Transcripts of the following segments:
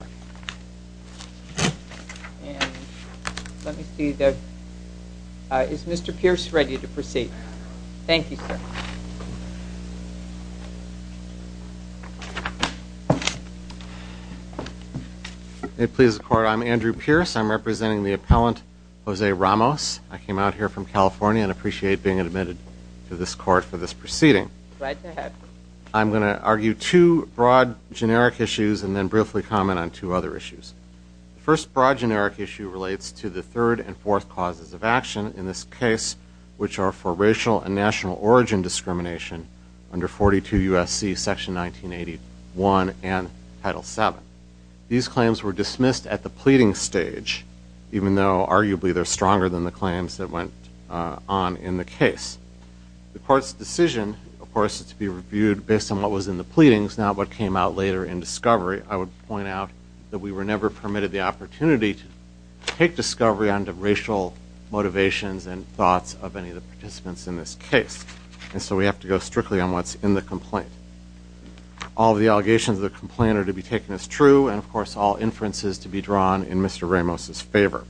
And let me see, is Mr. Pierce ready to proceed? Thank you, sir. May it please the Court, I'm Andrew Pierce. I'm representing the appellant, Jose Ramos. I came out here from California and appreciate being admitted to this court for this proceeding. Glad to have you. I'm going to argue two broad generic issues and then briefly comment on two other issues. The first broad generic issue relates to the third and fourth causes of action in this case, which are for racial and national origin discrimination under 42 U.S.C. section 1981 and Title VII. These claims were dismissed at the pleading stage, even though arguably they're stronger than the claims that went on in the case. The court's decision, of course, is to be reviewed based on what was in the pleadings, not what came out later in discovery. I would point out that we were never permitted the opportunity to take discovery on the racial motivations and thoughts of any of the participants in this case. And so we have to go strictly on what's in the complaint. All of the allegations of the complaint are to be taken as true, and, of course, all inferences to be drawn in Mr. Ramos's favor.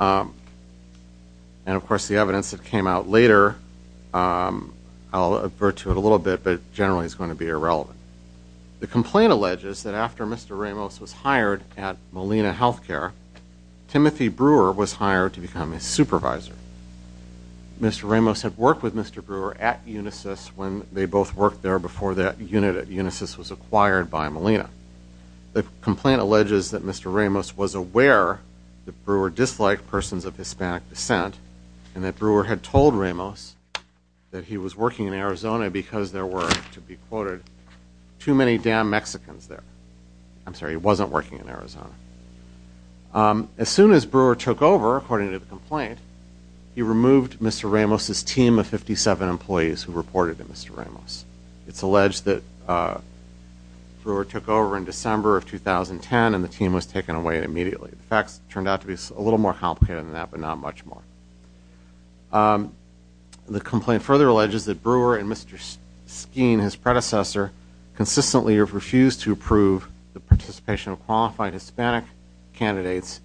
And, of course, the evidence that came out later, I'll refer to it a little bit, but generally it's going to be irrelevant. The complaint alleges that after Mr. Ramos was hired at Molina Healthcare, Timothy Brewer was hired to become his supervisor. Mr. Ramos had worked with Mr. Brewer at Unisys when they both worked there before that unit at Unisys was acquired by Molina. The complaint alleges that Mr. Ramos was aware that Brewer disliked persons of Hispanic descent and that Brewer had told Ramos that he was working in Arizona because there were, to be quoted, too many damn Mexicans there. I'm sorry, he wasn't working in Arizona. As soon as Brewer took over, according to the complaint, he removed Mr. Ramos's team of 57 employees who reported to Mr. Ramos. It's alleged that Brewer took over in December of 2010 and the team was taken away immediately. The facts turned out to be a little more complicated than that, but not much more. The complaint further alleges that Brewer and Mr. Skeen, his predecessor, consistently have refused to approve the participation of qualified Hispanic candidates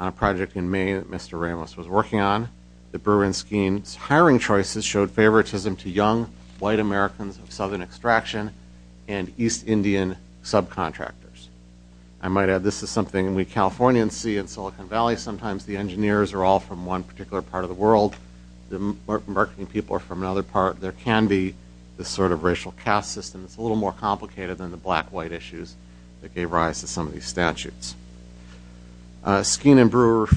on a project in Maine that Mr. Ramos was working on. The Brewer and Skeen's hiring choices showed favoritism to young white Americans of southern extraction and East Indian subcontractors. I might add this is something we Californians see in Silicon Valley. Sometimes the engineers are all from one particular part of the world. The marketing people are from another part. There can be this sort of racial caste system. It's a little more complicated than the black-white issues that gave rise to some of these statutes. Skeen and Brewer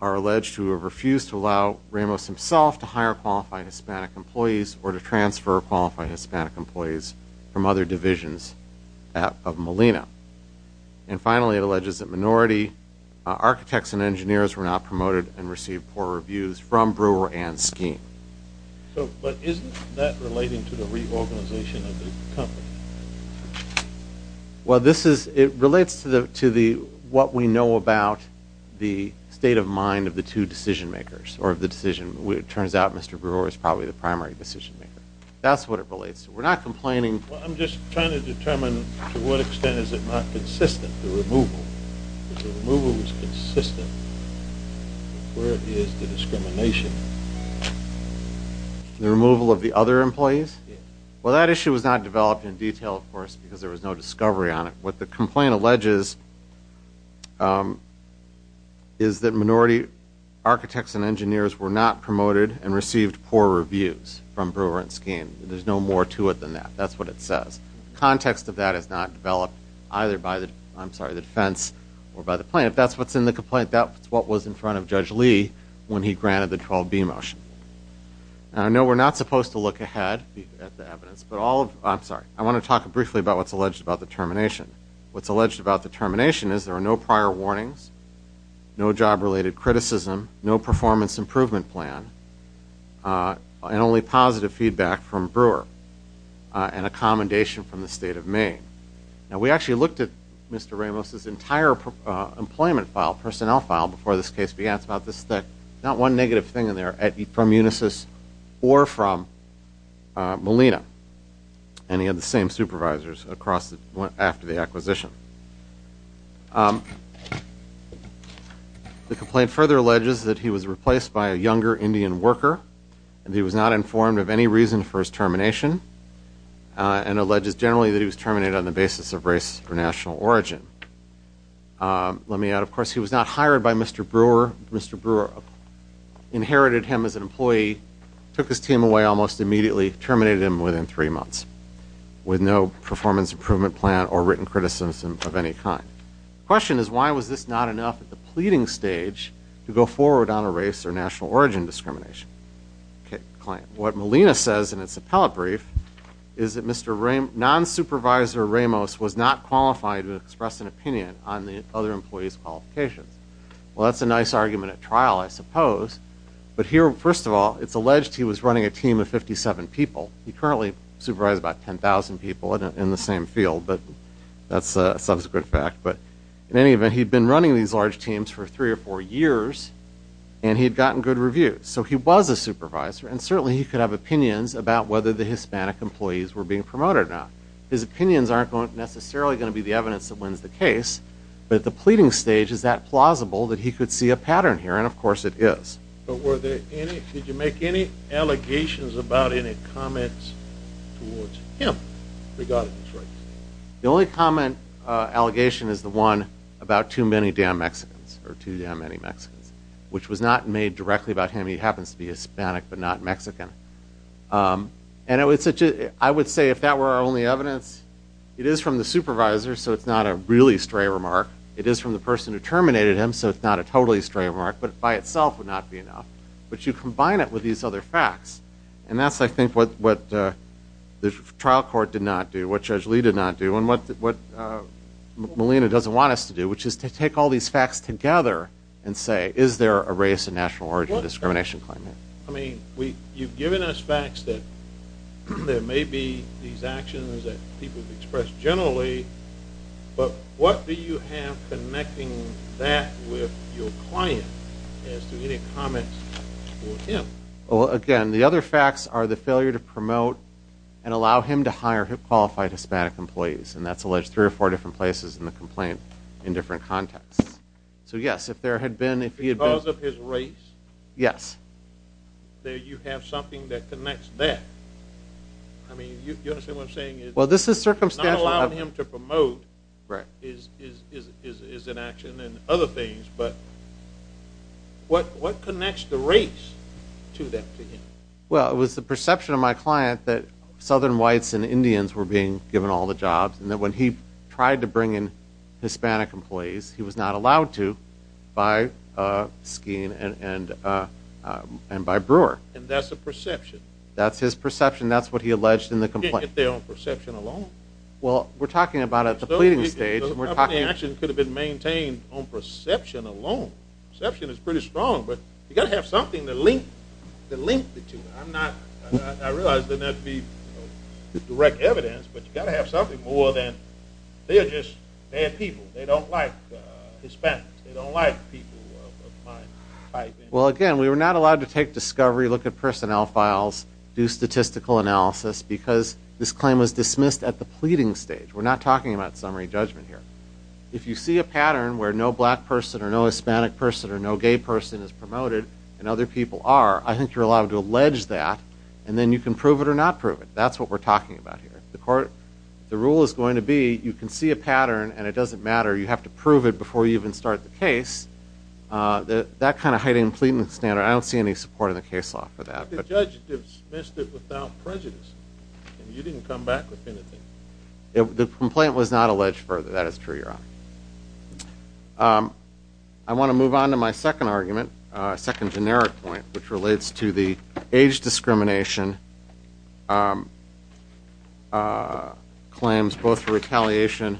are alleged to have refused to allow Ramos himself to hire qualified Hispanic employees or to transfer qualified Hispanic employees from other divisions of Molina. And finally, it alleges that minority architects and engineers were not promoted and received poor reviews from Brewer and Skeen. But isn't that relating to the reorganization of the company? Well, it relates to what we know about the state of mind of the two decision-makers, or of the decision. It turns out Mr. Brewer is probably the primary decision-maker. That's what it relates to. We're not complaining. I'm just trying to determine to what extent is it not consistent, the removal. If the removal was consistent, where is the discrimination? The removal of the other employees? Well, that issue was not developed in detail, of course, because there was no discovery on it. What the complaint alleges is that minority architects and engineers were not promoted and received poor reviews from Brewer and Skeen. There's no more to it than that. That's what it says. The context of that is not developed either by the defense or by the plaintiff. That's what's in the complaint. That's what was in front of Judge Lee when he granted the 12B motion. I know we're not supposed to look ahead at the evidence. I'm sorry. I want to talk briefly about what's alleged about the termination. What's alleged about the termination is there are no prior warnings, no job-related criticism, no performance improvement plan, and only positive feedback from Brewer and a commendation from the state of Maine. Now, we actually looked at Mr. Ramos' entire employment file, personnel file, before this case began. That's about this thick. Not one negative thing in there from Unisys or from Molina. And he had the same supervisors after the acquisition. The complaint further alleges that he was replaced by a younger Indian worker and he was not informed of any reason for his termination and alleges generally that he was terminated on the basis of race or national origin. Let me add, of course, he was not hired by Mr. Brewer. Mr. Brewer inherited him as an employee, took his team away almost immediately, terminated him within three months with no performance improvement plan or written criticism of any kind. The question is why was this not enough at the pleading stage to go forward on a race or national origin discrimination claim? What Molina says in its appellate brief is that Mr. Ramos, non-supervisor Ramos, was not qualified to express an opinion on the other employees' qualifications. Well, that's a nice argument at trial, I suppose. But here, first of all, it's alleged he was running a team of 57 people. He currently supervises about 10,000 people in the same field, but that's a subsequent fact. But in any event, he'd been running these large teams for three or four years and he'd gotten good reviews. So he was a supervisor and certainly he could have opinions about whether the Hispanic employees were being promoted or not. His opinions aren't necessarily going to be the evidence that wins the case, but at the pleading stage, is that plausible that he could see a pattern here? And of course it is. But were there any, did you make any allegations about any comments towards him, regardless of race? The only common allegation is the one about too many damn Mexicans, or too damn many Mexicans, which was not made directly about him. I mean, he happens to be Hispanic but not Mexican. And I would say if that were our only evidence, it is from the supervisor, so it's not a really stray remark. It is from the person who terminated him, so it's not a totally stray remark, but by itself would not be enough. But you combine it with these other facts, and that's, I think, what the trial court did not do, what Judge Lee did not do, and what Malina doesn't want us to do, which is to take all these facts together and say, is there a race and national origin discrimination claim here? I mean, you've given us facts that there may be these actions that people have expressed generally, but what do you have connecting that with your client as to any comments towards him? Well, again, the other facts are the failure to promote and allow him to hire qualified Hispanic employees, and that's alleged three or four different places in the complaint in different contexts. So, yes, if there had been, if he had been— Because of his race? Yes. Then you have something that connects that. I mean, you understand what I'm saying? Well, this is circumstantial. Not allowing him to promote is an action and other things, but what connects the race to that to him? Well, it was the perception of my client that Southern whites and Indians were being given all the jobs and that when he tried to bring in Hispanic employees, he was not allowed to by Skeen and by Brewer. And that's the perception? That's his perception. That's what he alleged in the complaint. You can't get there on perception alone? Well, we're talking about at the pleading stage. Those kinds of actions could have been maintained on perception alone. Perception is pretty strong, but you've got to have something to link it to. I realize that that would be direct evidence, but you've got to have something more than they're just bad people. They don't like Hispanics. They don't like people of my type. Well, again, we were not allowed to take discovery, look at personnel files, do statistical analysis because this claim was dismissed at the pleading stage. We're not talking about summary judgment here. If you see a pattern where no black person or no Hispanic person or no gay person is promoted and other people are, I think you're allowed to allege that, and then you can prove it or not prove it. That's what we're talking about here. The rule is going to be you can see a pattern and it doesn't matter. You have to prove it before you even start the case. That kind of hiding and pleading standard, I don't see any support in the case law for that. But the judge dismissed it without prejudice, and you didn't come back with anything. The complaint was not alleged further. That is true, Your Honor. I want to move on to my second argument, second generic point, which relates to the age discrimination claims, both retaliation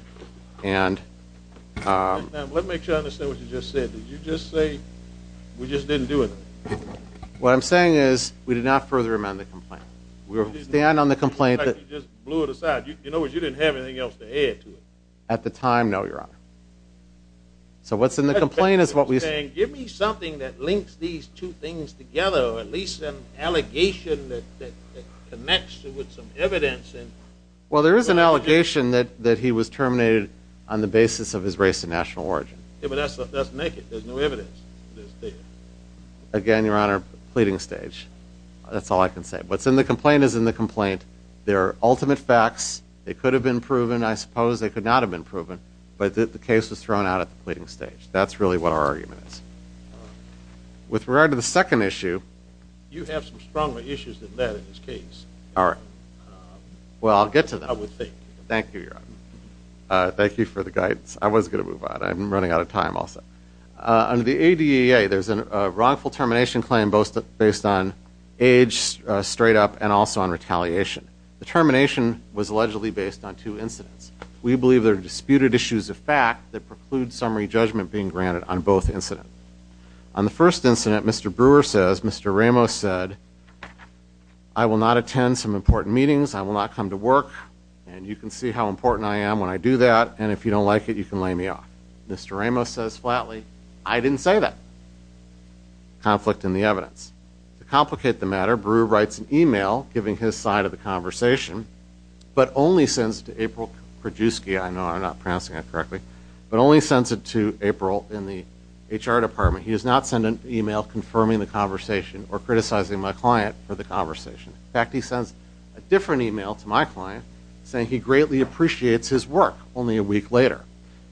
and – Let me make sure I understand what you just said. Did you just say we just didn't do it? What I'm saying is we did not further amend the complaint. We stand on the complaint that – You just blew it aside. In other words, you didn't have anything else to add to it. At the time, no, Your Honor. So what's in the complaint is what we – Give me something that links these two things together, or at least an allegation that connects with some evidence. Well, there is an allegation that he was terminated on the basis of his race and national origin. But that's naked. There's no evidence. Again, Your Honor, pleading stage. That's all I can say. What's in the complaint is in the complaint. They're ultimate facts. They could have been proven. I suppose they could not have been proven. But the case was thrown out at the pleading stage. That's really what our argument is. With regard to the second issue – You have some stronger issues than that in this case. All right. Well, I'll get to that. I would think. Thank you, Your Honor. Thank you for the guidance. I was going to move on. I'm running out of time also. Under the ADEA, there's a wrongful termination claim based on age, straight up, and also on retaliation. The termination was allegedly based on two incidents. We believe there are disputed issues of fact that preclude summary judgment being granted on both incidents. On the first incident, Mr. Brewer says, Mr. Ramos said, I will not attend some important meetings. I will not come to work. And you can see how important I am when I do that. And if you don't like it, you can lay me off. Mr. Ramos says flatly, I didn't say that. Conflict in the evidence. To complicate the matter, Brewer writes an email giving his side of the conversation, but only sends it to April Krajewski. I know I'm not pronouncing that correctly. But only sends it to April in the HR department. He does not send an email confirming the conversation or criticizing my client for the conversation. In fact, he sends a different email to my client saying he greatly appreciates his work only a week later.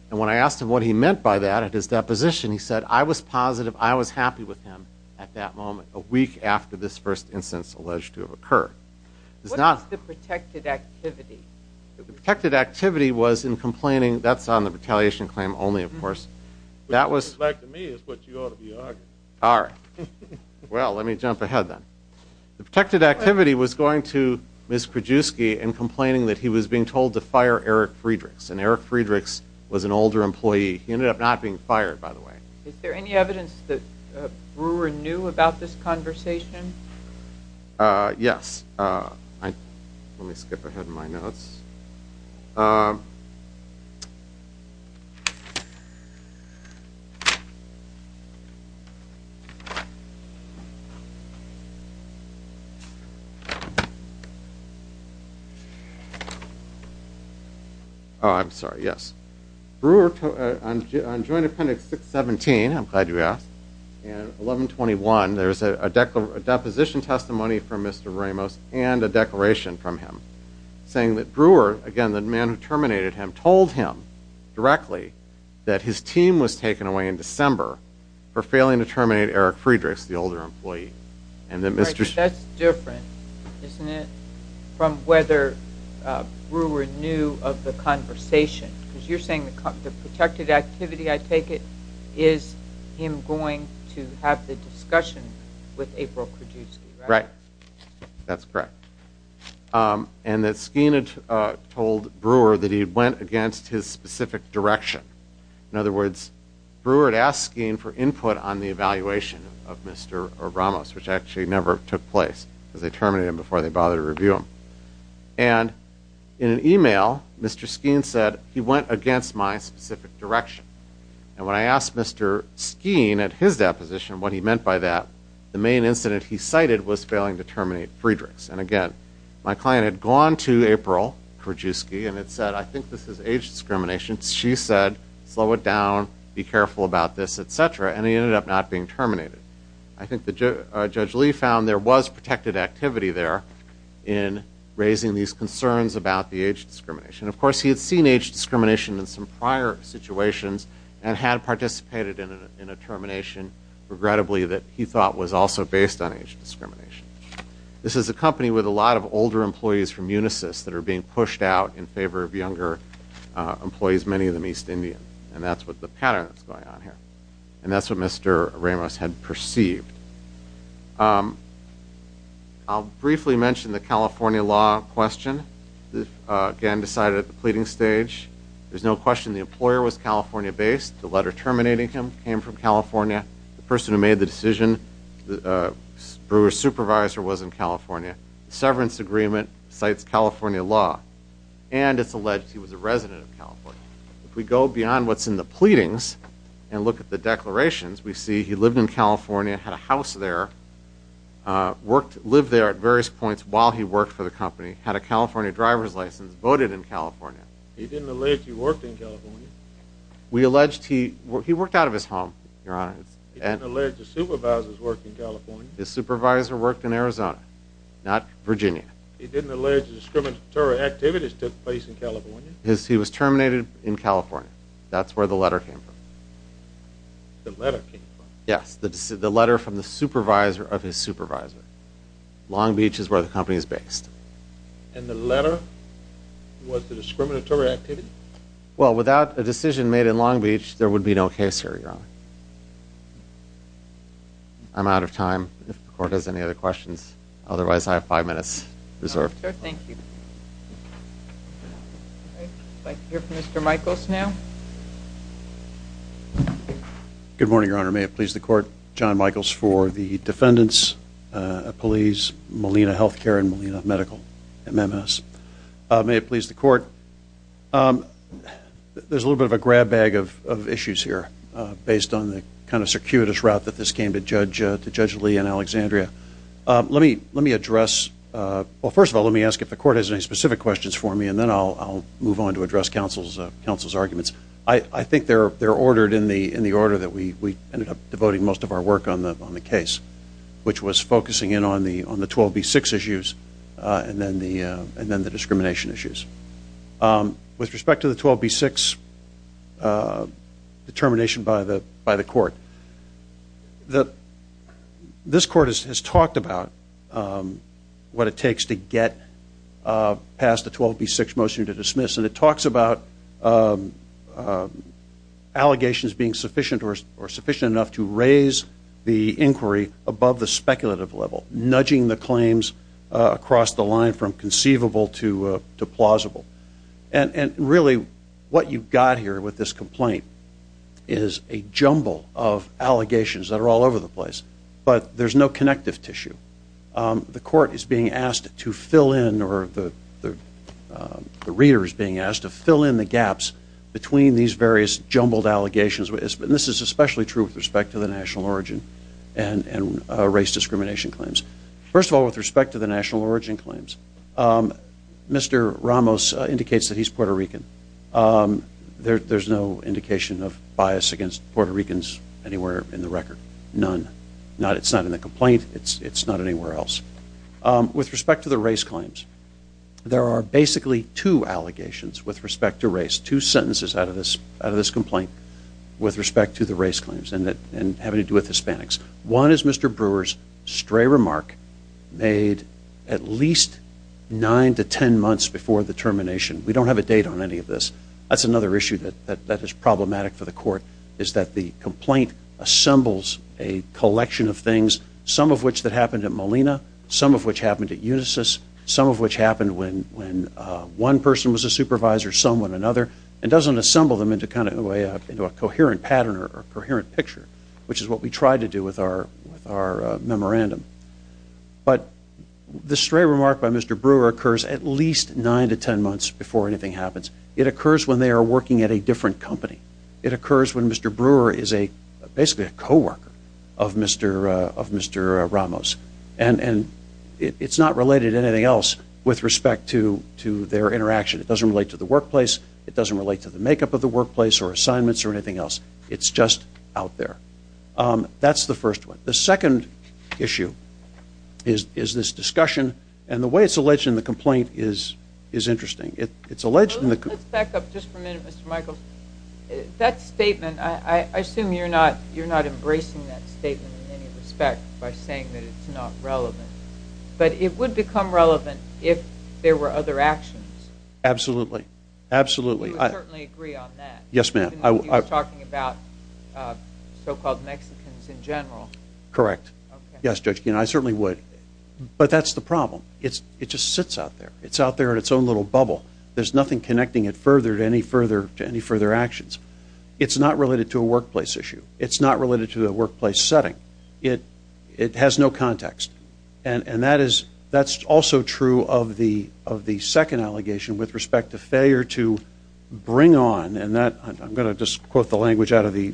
And when I asked him what he meant by that at his deposition, he said, I was positive, I was happy with him at that moment, a week after this first incident is alleged to have occurred. What is the protected activity? The protected activity was in complaining. That's on the retaliation claim only, of course. Which, to me, is what you ought to be arguing. All right. Well, let me jump ahead then. The protected activity was going to Ms. Krajewski and complaining that he was being told to fire Eric Friedrichs. And Eric Friedrichs was an older employee. He ended up not being fired, by the way. Is there any evidence that Brewer knew about this conversation? Yes. Let me skip ahead in my notes. Oh, I'm sorry. Yes. Brewer, on Joint Appendix 617, I'm glad you asked, and 1121, there's a deposition testimony from Mr. Ramos and a declaration from him saying that Brewer, again, the man who terminated him, told him directly that his team was taken away in December for failing to terminate Eric Friedrichs, the older employee. That's different, isn't it, from whether Brewer knew of the conversation. Because you're saying the protected activity, I take it, is him going to have the discussion with April Krajewski, right? That's correct. And that Skeen had told Brewer that he had went against his specific direction. In other words, Brewer had asked Skeen for input on the evaluation of Mr. Ramos, which actually never took place, because they terminated him before they bothered to review him. And in an email, Mr. Skeen said, he went against my specific direction. And when I asked Mr. Skeen at his deposition what he meant by that, the main incident he cited was failing to terminate Friedrichs. And again, my client had gone to April Krajewski and had said, I think this is age discrimination. She said, slow it down, be careful about this, etc. And he ended up not being terminated. I think Judge Lee found there was protected activity there in raising these concerns about the age discrimination. Of course, he had seen age discrimination in some prior situations and had participated in a termination, regrettably, that he thought was also based on age discrimination. This is a company with a lot of older employees from Unisys that are being pushed out in favor of younger employees, many of them East Indian. And that's what the pattern is going on here. And that's what Mr. Ramos had perceived. I'll briefly mention the California law question. Again, decided at the pleading stage. There's no question the employer was California-based. The letter terminating him came from California. The person who made the decision, Brewer's supervisor, was in California. The severance agreement cites California law. And it's alleged he was a resident of California. If we go beyond what's in the pleadings and look at the declarations, we see he lived in California, had a house there, lived there at various points while he worked for the company, had a California driver's license, voted in California. He didn't allege he worked in California. We allege he worked out of his home, Your Honor. He didn't allege the supervisor worked in California. His supervisor worked in Arizona, not Virginia. He didn't allege discriminatory activities took place in California. He was terminated in California. That's where the letter came from. The letter came from. Yes, the letter from the supervisor of his supervisor. Long Beach is where the company is based. And the letter was the discriminatory activity? Well, without a decision made in Long Beach, there would be no case here, Your Honor. I'm out of time. If the Court has any other questions. Otherwise, I have five minutes reserved. Thank you. I'd like to hear from Mr. Michaels now. Good morning, Your Honor. May it please the Court, John Michaels for the defendants, police, Molina Health Care, and Molina Medical, MMS. May it please the Court. There's a little bit of a grab bag of issues here based on the kind of circuitous route that this came to Judge Lee and Alexandria. Let me address, well, first of all, let me ask if the Court has any specific questions for me, and then I'll move on to address counsel's arguments. I think they're ordered in the order that we ended up devoting most of our work on the case, which was focusing in on the 12B6 issues and then the discrimination issues. With respect to the 12B6 determination by the Court, this Court has talked about what it takes to get past the 12B6 motion to dismiss, and it talks about allegations being sufficient or sufficient enough to raise the inquiry above the speculative level, nudging the claims across the line from conceivable to plausible. And really what you've got here with this complaint is a jumble of allegations that are all over the place, but there's no connective tissue. The Court is being asked to fill in or the reader is being asked to fill in the gaps between these various jumbled allegations, and this is especially true with respect to the national origin and race discrimination claims. First of all, with respect to the national origin claims, Mr. Ramos indicates that he's Puerto Rican. There's no indication of bias against Puerto Ricans anywhere in the record. None. It's not in the complaint. It's not anywhere else. With respect to the race claims, there are basically two allegations with respect to race, two sentences out of this complaint with respect to the race claims and having to do with Hispanics. One is Mr. Brewer's stray remark made at least nine to ten months before the termination. We don't have a date on any of this. That's another issue that is problematic for the Court, is that the complaint assembles a collection of things, some of which that happened at Molina, some of which happened at Unisys, some of which happened when one person was a supervisor, some when another, and doesn't assemble them into a coherent pattern or a coherent picture, which is what we tried to do with our memorandum. But the stray remark by Mr. Brewer occurs at least nine to ten months before anything happens. It occurs when they are working at a different company. It occurs when Mr. Brewer is basically a coworker of Mr. Ramos. And it's not related to anything else with respect to their interaction. It doesn't relate to the workplace. It doesn't relate to the makeup of the workplace or assignments or anything else. It's just out there. That's the first one. The second issue is this discussion, and the way it's alleged in the complaint is interesting. Let's back up just for a minute, Mr. Michaels. That statement, I assume you're not embracing that statement in any respect by saying that it's not relevant. But it would become relevant if there were other actions. Absolutely. Absolutely. You would certainly agree on that. Yes, ma'am. Even if you were talking about so-called Mexicans in general. Correct. Yes, Judge Keene, I certainly would. But that's the problem. It just sits out there. It's out there in its own little bubble. There's nothing connecting it further to any further actions. It's not related to a workplace issue. It's not related to a workplace setting. It has no context. And that's also true of the second allegation with respect to failure to bring on, and I'm going to just quote the language out of the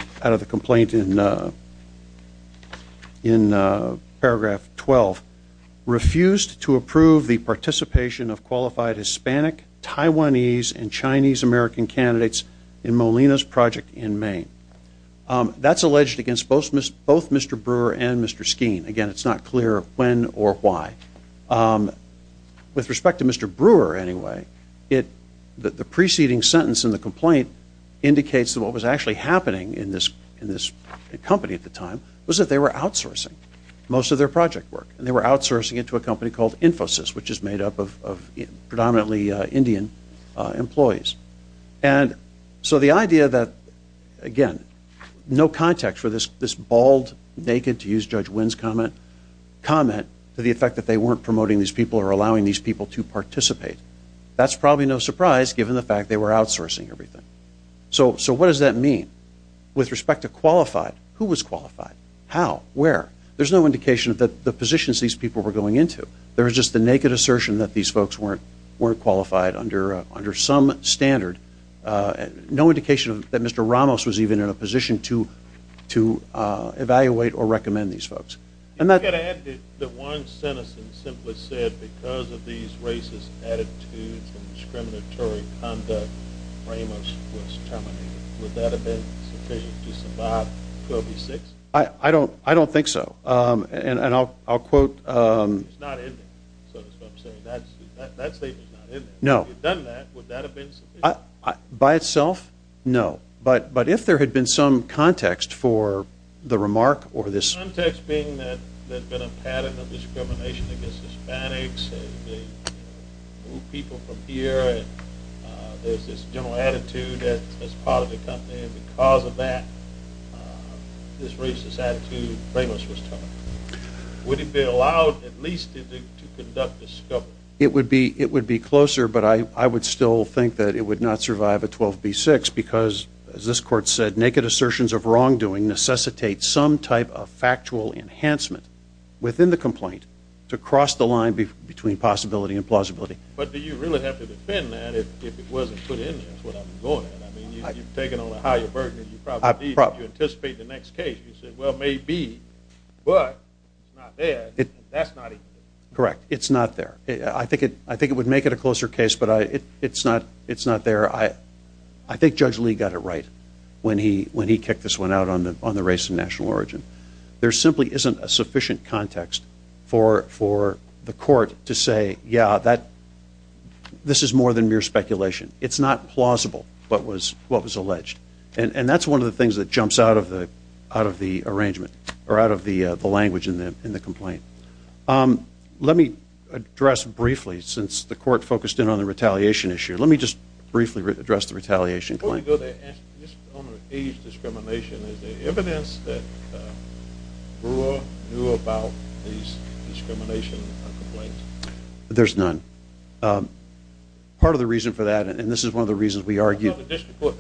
complaint in paragraph 12, refused to approve the participation of qualified Hispanic, Taiwanese, and Chinese-American candidates in Molina's project in Maine. That's alleged against both Mr. Brewer and Mr. Skeen. Again, it's not clear when or why. With respect to Mr. Brewer, anyway, the preceding sentence in the complaint indicates that what was actually happening in this company at the time was that they were outsourcing most of their project work. And they were outsourcing it to a company called Infosys, which is made up of predominantly Indian employees. And so the idea that, again, no context for this bald, naked, to use Judge Wynn's comment, comment to the effect that they weren't promoting these people or allowing these people to participate, that's probably no surprise given the fact they were outsourcing everything. So what does that mean? With respect to qualified, who was qualified? How? Where? There's no indication of the positions these people were going into. There was just the naked assertion that these folks weren't qualified under some standard. No indication that Mr. Ramos was even in a position to evaluate or recommend these folks. You could add that one sentence simply said, because of these racist attitudes and discriminatory conduct, Ramos was terminated. Would that have been sufficient to survive Covid-6? I don't think so. And I'll quote. It's not in there, so to speak. That statement is not in there. If it had done that, would that have been sufficient? By itself, no. But if there had been some context for the remark or this. Context being that there had been a pattern of discrimination against Hispanics and they moved people from here. There's this general attitude as part of the company. And because of that, this racist attitude, Ramos was terminated. Would it be allowed at least to conduct discovery? It would be closer, but I would still think that it would not survive a 12B6 because, as this court said, naked assertions of wrongdoing necessitate some type of factual enhancement within the complaint to cross the line between possibility and plausibility. But do you really have to defend that if it wasn't put in there? That's what I'm going at. I mean, you've taken on a higher burden than you probably need. You anticipate the next case. You say, well, maybe, but it's not there. That's not even it. Correct. It's not there. I think it would make it a closer case, but it's not there. I think Judge Lee got it right when he kicked this one out on the race and national origin. There simply isn't a sufficient context for the court to say, yeah, this is more than mere speculation. It's not plausible what was alleged, and that's one of the things that jumps out of the language in the complaint. Let me address briefly, since the court focused in on the retaliation issue, let me just briefly address the retaliation claim. Before we go there, just on the age discrimination, is there evidence that Brewer knew about this discrimination complaint? There's none. Part of the reason for that, and this is one of the reasons we argued the district court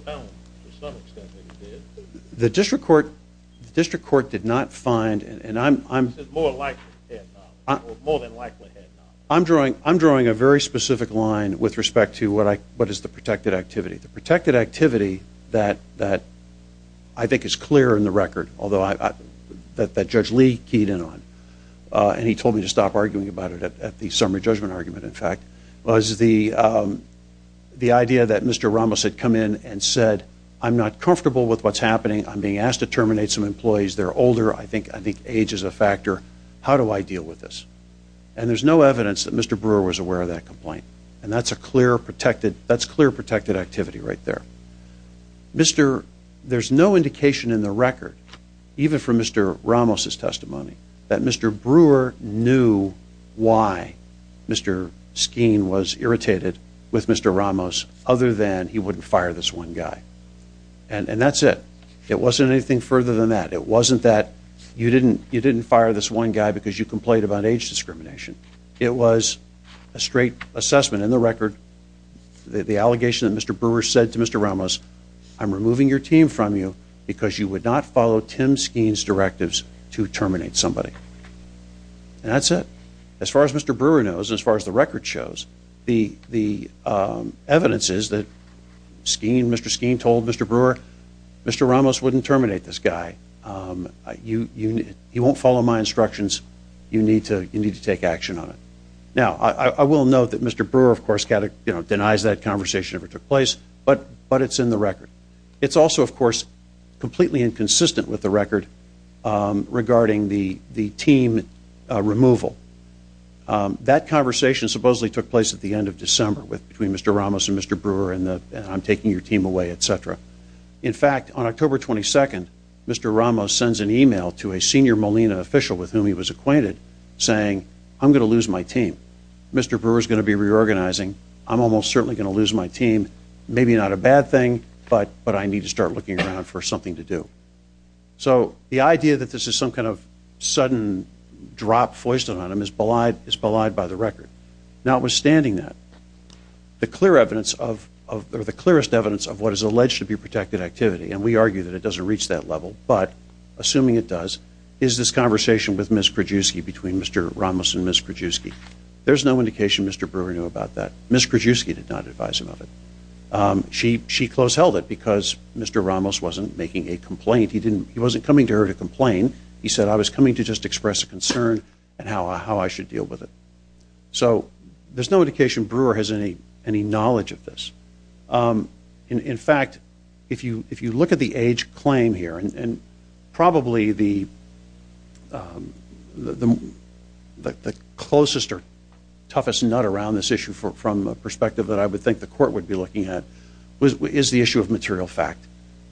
did not find, and I'm drawing a very specific line with respect to what is the protected activity. The protected activity that I think is clear in the record, although that Judge Lee keyed in on, and he told me to stop arguing about it at the summary judgment argument, in fact, was the idea that Mr. Ramos had come in and said, I'm not comfortable with what's happening. I'm being asked to terminate some employees. They're older. I think age is a factor. How do I deal with this? And there's no evidence that Mr. Brewer was aware of that complaint, and that's a clear protected activity right there. There's no indication in the record, even from Mr. Ramos' testimony, that Mr. Brewer knew why Mr. Skeen was irritated with Mr. Ramos other than he wouldn't fire this one guy. And that's it. It wasn't anything further than that. It wasn't that you didn't fire this one guy because you complained about age discrimination. It was a straight assessment in the record, the allegation that Mr. Brewer said to Mr. Ramos, I'm removing your team from you because you would not follow Tim Skeen's directives to terminate somebody. And that's it. As far as Mr. Brewer knows, as far as the record shows, the evidence is that Mr. Skeen told Mr. Brewer, Mr. Ramos wouldn't terminate this guy. He won't follow my instructions. You need to take action on it. Now, I will note that Mr. Brewer, of course, denies that conversation ever took place, but it's in the record. It's also, of course, completely inconsistent with the record regarding the team removal. That conversation supposedly took place at the end of December between Mr. Ramos and Mr. Brewer, and I'm taking your team away, et cetera. In fact, on October 22nd, Mr. Ramos sends an email to a senior Molina official with whom he was acquainted saying, I'm going to lose my team. Mr. Brewer's going to be reorganizing. I'm almost certainly going to lose my team. Maybe not a bad thing, but I need to start looking around for something to do. So the idea that this is some kind of sudden drop foisted on him is belied by the record. Notwithstanding that, the clearest evidence of what is alleged to be protected activity, and we argue that it doesn't reach that level, but assuming it does, is this conversation with Ms. Krajewski between Mr. Ramos and Ms. Krajewski. There's no indication Mr. Brewer knew about that. Ms. Krajewski did not advise him of it. She close held it because Mr. Ramos wasn't making a complaint. He wasn't coming to her to complain. He said, I was coming to just express a concern and how I should deal with it. So there's no indication Brewer has any knowledge of this. In fact, if you look at the age claim here, and probably the closest or toughest nut around this issue from a perspective that I would think the court would be looking at, is the issue of material fact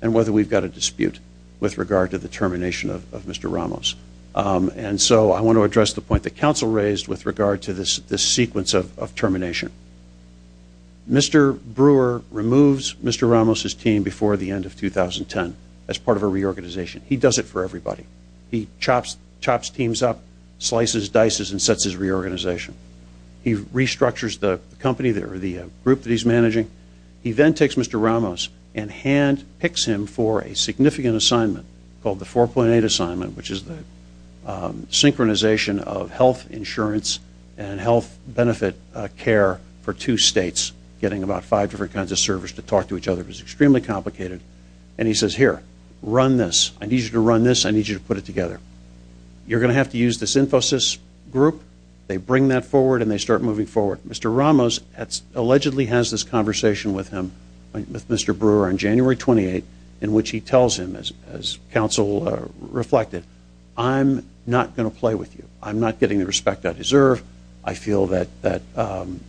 and whether we've got a dispute with regard to the termination of Mr. Ramos. And so I want to address the point that counsel raised with regard to this sequence of termination. Mr. Brewer removes Mr. Ramos' team before the end of 2010 as part of a reorganization. He does it for everybody. He chops teams up, slices, dices, and sets his reorganization. He restructures the company or the group that he's managing. He then takes Mr. Ramos and handpicks him for a significant assignment called the 4.8 assignment, which is the synchronization of health insurance and health benefit care for two states, getting about five different kinds of servers to talk to each other. It was extremely complicated. And he says, here, run this. I need you to run this. I need you to put it together. You're going to have to use this Infosys group. They bring that forward, and they start moving forward. Mr. Ramos allegedly has this conversation with him, with Mr. Brewer, on January 28, in which he tells him, as counsel reflected, I'm not going to play with you. I'm not getting the respect I deserve. I feel that I'm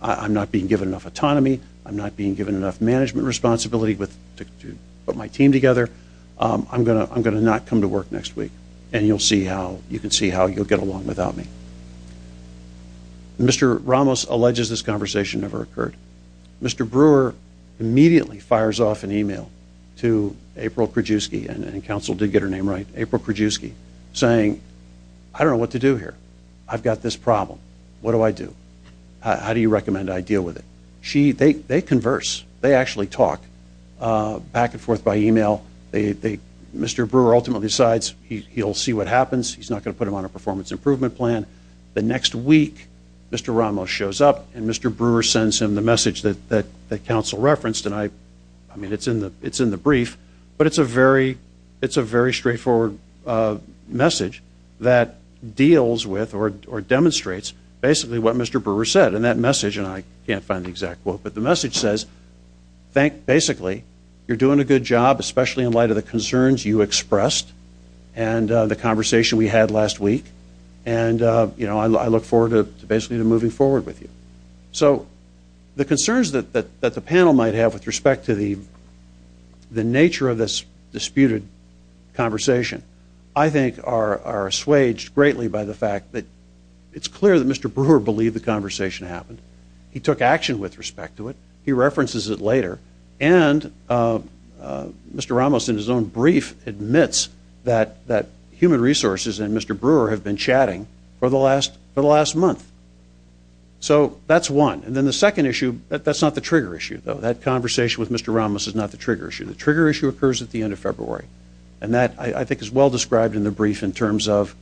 not being given enough autonomy. I'm not being given enough management responsibility to put my team together. I'm going to not come to work next week, and you can see how you'll get along without me. Mr. Ramos alleges this conversation never occurred. Mr. Brewer immediately fires off an e-mail to April Krajewski, and counsel did get her name right, April Krajewski, saying, I don't know what to do here. I've got this problem. What do I do? How do you recommend I deal with it? They converse. They actually talk back and forth by e-mail. Mr. Brewer ultimately decides he'll see what happens. He's not going to put him on a performance improvement plan. The next week, Mr. Ramos shows up, and Mr. Brewer sends him the message that counsel referenced, and it's in the brief, but it's a very straightforward message that deals with or demonstrates basically what Mr. Brewer said. And that message, and I can't find the exact quote, but the message says, basically, you're doing a good job, especially in light of the concerns you expressed and the conversation we had last week, and I look forward to basically moving forward with you. So the concerns that the panel might have with respect to the nature of this disputed conversation, I think are assuaged greatly by the fact that it's clear that Mr. Brewer believed the conversation happened. He took action with respect to it. He references it later. And Mr. Ramos, in his own brief, admits that human resources and Mr. Brewer have been chatting for the last month. So that's one. And then the second issue, that's not the trigger issue, though. That conversation with Mr. Ramos is not the trigger issue. The trigger issue occurs at the end of February, and that, I think, is well described in the brief in terms of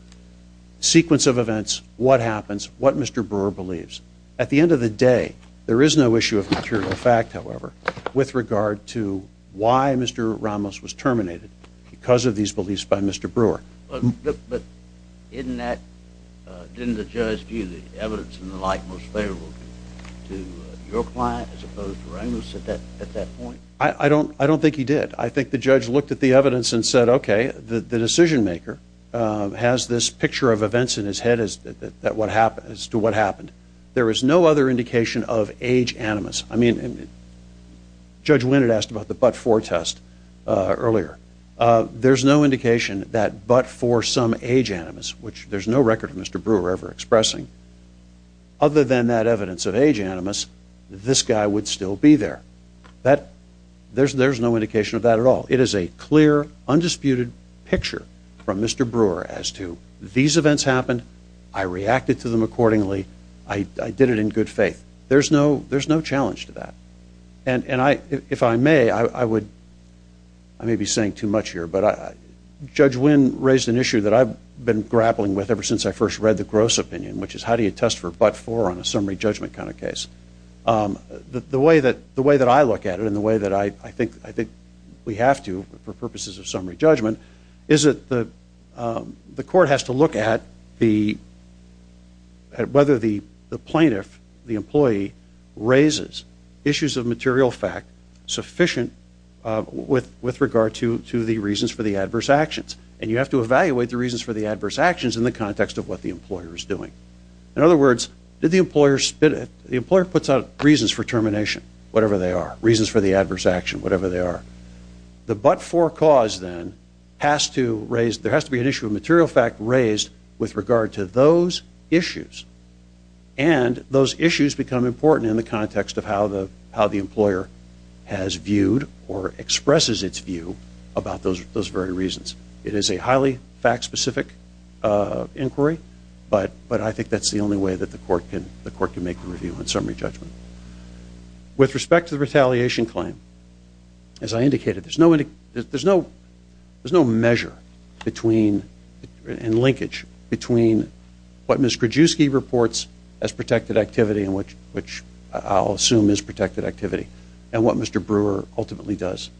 sequence of events, what happens, what Mr. Brewer believes. At the end of the day, there is no issue of material fact, however, with regard to why Mr. Ramos was terminated because of these beliefs by Mr. Brewer. But didn't the judge view the evidence and the like most favorable to your client as opposed to Ramos at that point? I don't think he did. I think the judge looked at the evidence and said, okay, the decision maker has this picture of events in his head as to what happened. There is no other indication of age animus. I mean, Judge Wynette asked about the but-for test earlier. There's no indication that but for some age animus, which there's no record of Mr. Brewer ever expressing, other than that evidence of age animus, this guy would still be there. There's no indication of that at all. It is a clear, undisputed picture from Mr. Brewer as to these events happened, I reacted to them accordingly, I did it in good faith. There's no challenge to that. And if I may, I may be saying too much here, but Judge Wynne raised an issue that I've been grappling with ever since I first read the Gross Opinion, which is how do you test for but-for on a summary judgment kind of case. The way that I look at it, and the way that I think we have to for purposes of summary judgment, is that the court has to look at whether the plaintiff, the employee, raises issues of material fact sufficient with regard to the reasons for the adverse actions. And you have to evaluate the reasons for the adverse actions in the context of what the employer is doing. In other words, the employer puts out reasons for termination, whatever they are. Reasons for the adverse action, whatever they are. The but-for cause then has to raise, there has to be an issue of material fact raised with regard to those issues. And those issues become important in the context of how the employer has viewed or expresses its view about those very reasons. It is a highly fact-specific inquiry, but I think that's the only way that the court can make a review on summary judgment. With respect to the retaliation claim, as I indicated, there's no measure between, and linkage, between what Ms. Krajewski reports as protected activity, which I'll assume is protected activity, and what Mr. Brewer ultimately does.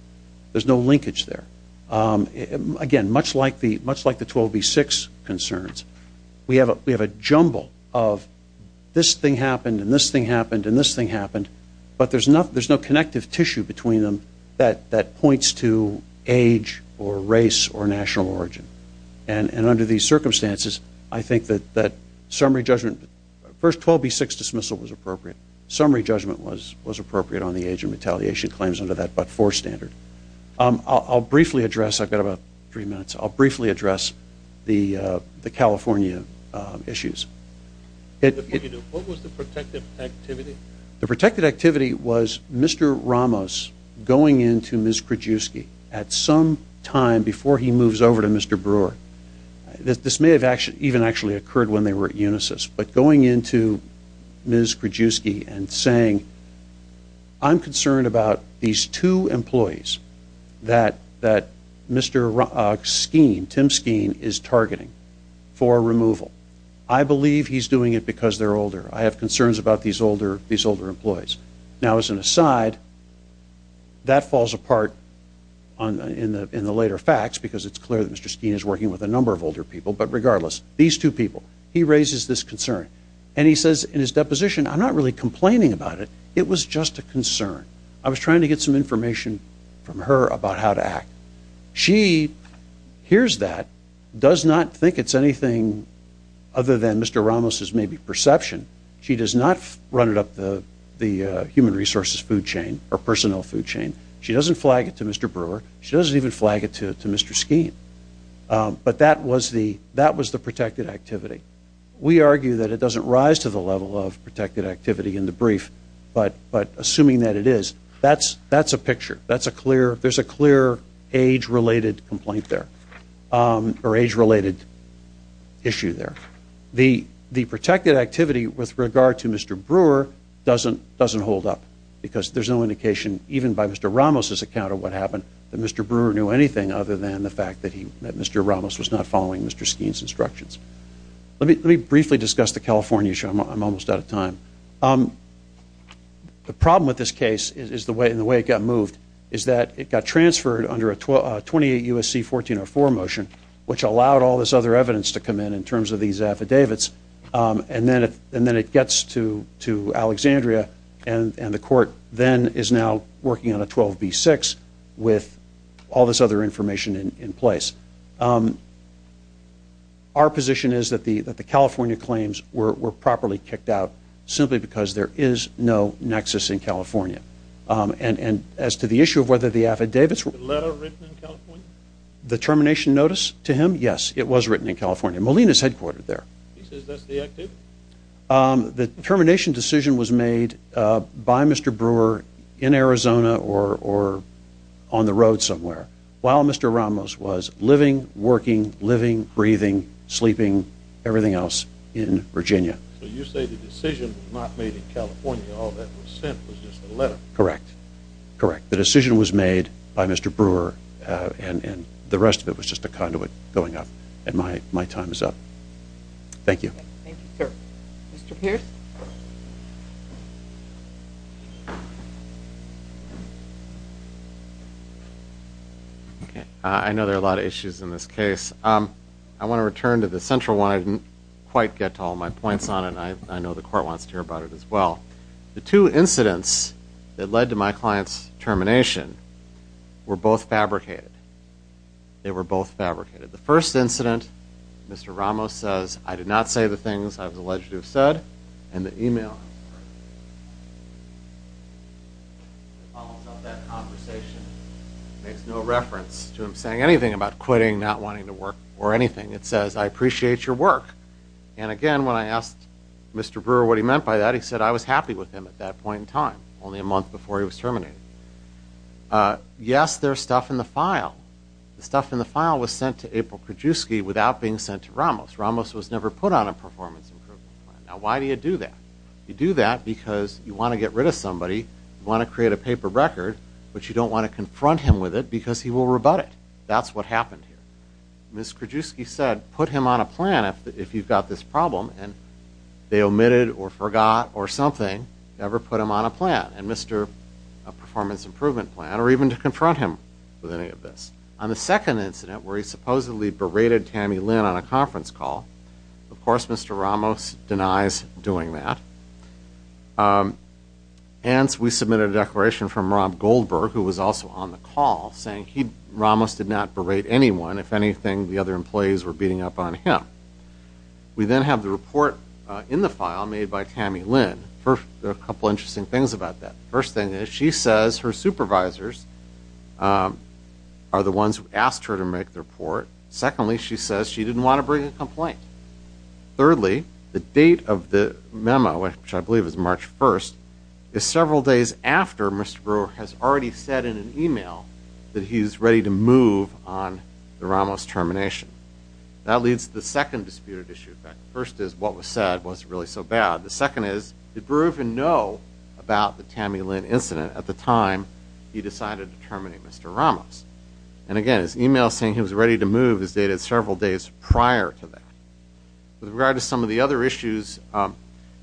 There's no linkage there. Again, much like the 12B6 concerns, we have a jumble of this thing happened and this thing happened and this thing happened, but there's no connective tissue between them that points to age or race or national origin. And under these circumstances, I think that summary judgment, first 12B6 dismissal was appropriate. Summary judgment was appropriate on the age of retaliation claims under that but-for standard. I'll briefly address, I've got about three minutes, I'll briefly address the California issues. What was the protected activity? The protected activity was Mr. Ramos going into Ms. Krajewski at some time before he moves over to Mr. Brewer. This may have even actually occurred when they were at Unisys, but going into Ms. Krajewski and saying, I'm concerned about these two employees that Mr. Skeen, Tim Skeen, is targeting for removal. I believe he's doing it because they're older. I have concerns about these older employees. Now, as an aside, that falls apart in the later facts because it's clear that Mr. Skeen is working with a number of older people, but regardless, these two people, he raises this concern. And he says in his deposition, I'm not really complaining about it. It was just a concern. I was trying to get some information from her about how to act. She hears that, does not think it's anything other than Mr. Ramos' maybe perception. She does not run it up the human resources food chain or personnel food chain. She doesn't flag it to Mr. Brewer. She doesn't even flag it to Mr. Skeen. But that was the protected activity. We argue that it doesn't rise to the level of protected activity in the brief, but assuming that it is, that's a picture. There's a clear age-related complaint there or age-related issue there. The protected activity with regard to Mr. Brewer doesn't hold up because there's no indication, even by Mr. Ramos' account of what happened, that Mr. Brewer knew anything other than the fact that Mr. Ramos was not following Mr. Skeen's instructions. Let me briefly discuss the California issue. I'm almost out of time. The problem with this case and the way it got moved is that it got transferred under a 28 U.S.C. 1404 motion, which allowed all this other evidence to come in in terms of these affidavits, and then it gets to Alexandria, and the court then is now working on a 12B6 with all this other information in place. Our position is that the California claims were properly kicked out simply because there is no nexus in California. And as to the issue of whether the affidavits were- The letter written in California? The termination notice to him? Yes, it was written in California. Molina's headquartered there. He says that's the activity? The termination decision was made by Mr. Brewer in Arizona or on the road somewhere, while Mr. Ramos was living, working, living, breathing, sleeping, everything else in Virginia. So you say the decision was not made in California, all that was sent was just a letter? Correct. Correct. The decision was made by Mr. Brewer, and the rest of it was just a conduit going up. And my time is up. Thank you. Thank you, sir. Mr. Pierce? I know there are a lot of issues in this case. I want to return to the central one. I didn't quite get to all my points on it, and I know the court wants to hear about it as well. The two incidents that led to my client's termination were both fabricated. They were both fabricated. The first incident, Mr. Ramos says, I did not say the things I was alleged to have said, and the email follows up that conversation. It makes no reference to him saying anything about quitting, not wanting to work, or anything. It says, I appreciate your work. And again, when I asked Mr. Brewer what he meant by that, he said, I was happy with him at that point in time, only a month before he was terminated. Yes, there's stuff in the file. The stuff in the file was sent to April Krajewski without being sent to Ramos. Ramos was never put on a performance improvement plan. Now, why do you do that? You do that because you want to get rid of somebody, you want to create a paper record, but you don't want to confront him with it because he will rebut it. That's what happened here. Ms. Krajewski said, put him on a plan if you've got this problem, and they omitted or forgot or something, never put him on a plan, a performance improvement plan, or even to confront him with any of this. On the second incident where he supposedly berated Tammy Lynn on a conference call, of course Mr. Ramos denies doing that. Hence, we submitted a declaration from Rob Goldberg, who was also on the call, saying Ramos did not berate anyone. If anything, the other employees were beating up on him. We then have the report in the file made by Tammy Lynn. There are a couple of interesting things about that. The first thing is she says her supervisors are the ones who asked her to make the report. Secondly, she says she didn't want to bring a complaint. Thirdly, the date of the memo, which I believe is March 1st, is several days after Mr. Brewer has already said in an email that he's ready to move on the Ramos termination. That leads to the second disputed issue. The first is what was said wasn't really so bad. The second is did Brewer even know about the Tammy Lynn incident at the time he decided to terminate Mr. Ramos? Again, his email saying he was ready to move is dated several days prior to that. With regard to some of the other issues,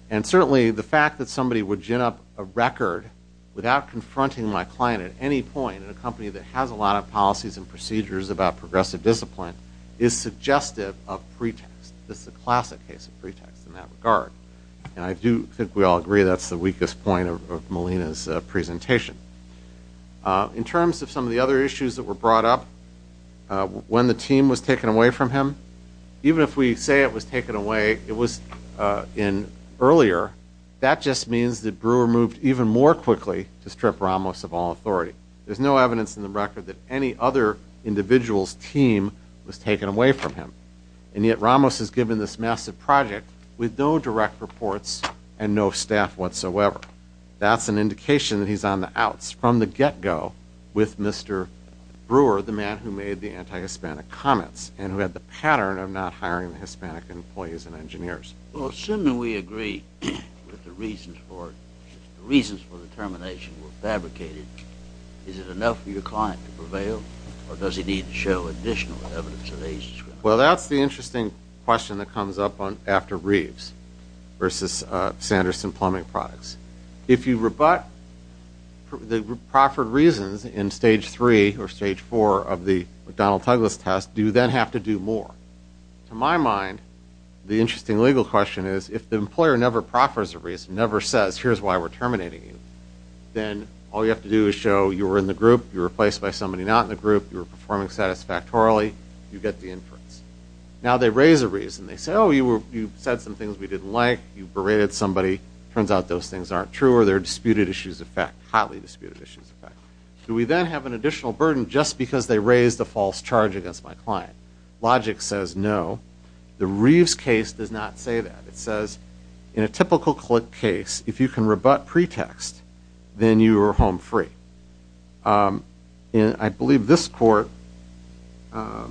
and certainly the fact that somebody would gin up a record without confronting my client at any point in a company that has a lot of policies and procedures about progressive discipline is suggestive of pretext. This is a classic case of pretext in that regard. I do think we all agree that's the weakest point of Melina's presentation. In terms of some of the other issues that were brought up, when the team was taken away from him, even if we say it was taken away earlier, that just means that Brewer moved even more quickly to strip Ramos of all authority. There's no evidence in the record that any other individual's team was taken away from him. And yet Ramos is given this massive project with no direct reports and no staff whatsoever. That's an indication that he's on the outs from the get-go with Mr. Brewer, the man who made the anti-Hispanic comments and who had the pattern of not hiring the Hispanic employees and engineers. Well, assuming we agree with the reasons for the termination were fabricated, is it enough for your client to prevail, or does he need to show additional evidence of age discrimination? Well, that's the interesting question that comes up after Reeves versus Sanderson Plumbing Products. If you rebut the proffered reasons in Stage 3 or Stage 4 of the McDonnell-Touglas test, do you then have to do more? To my mind, the interesting legal question is, if the employer never proffers a reason, never says, here's why we're terminating you, then all you have to do is show you were in the group, you were replaced by somebody not in the group, you were performing satisfactorily, you get the inference. Now they raise a reason. They say, oh, you said some things we didn't like, you berated somebody. It turns out those things aren't true or they're disputed issues of fact, hotly disputed issues of fact. Do we then have an additional burden just because they raised a false charge against my client? Logic says no. The Reeves case does not say that. It says, in a typical case, if you can rebut pretext, then you are home free. I believe this court, the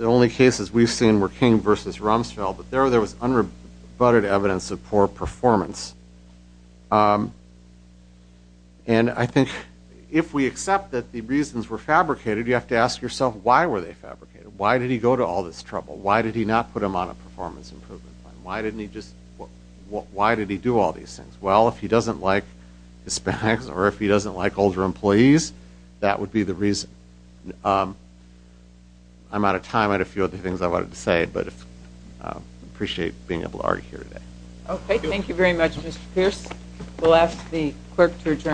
only cases we've seen were King versus Rumsfeld, but there was unrebutted evidence of poor performance. And I think if we accept that the reasons were fabricated, you have to ask yourself, why were they fabricated? Why did he go to all this trouble? Why did he not put him on a performance improvement plan? Why did he do all these things? Well, if he doesn't like his specs or if he doesn't like older employees, that would be the reason. I'm out of time. I had a few other things I wanted to say, but I appreciate being able to argue here today. Okay, thank you very much, Mr. Pierce. We'll ask the clerk to adjourn.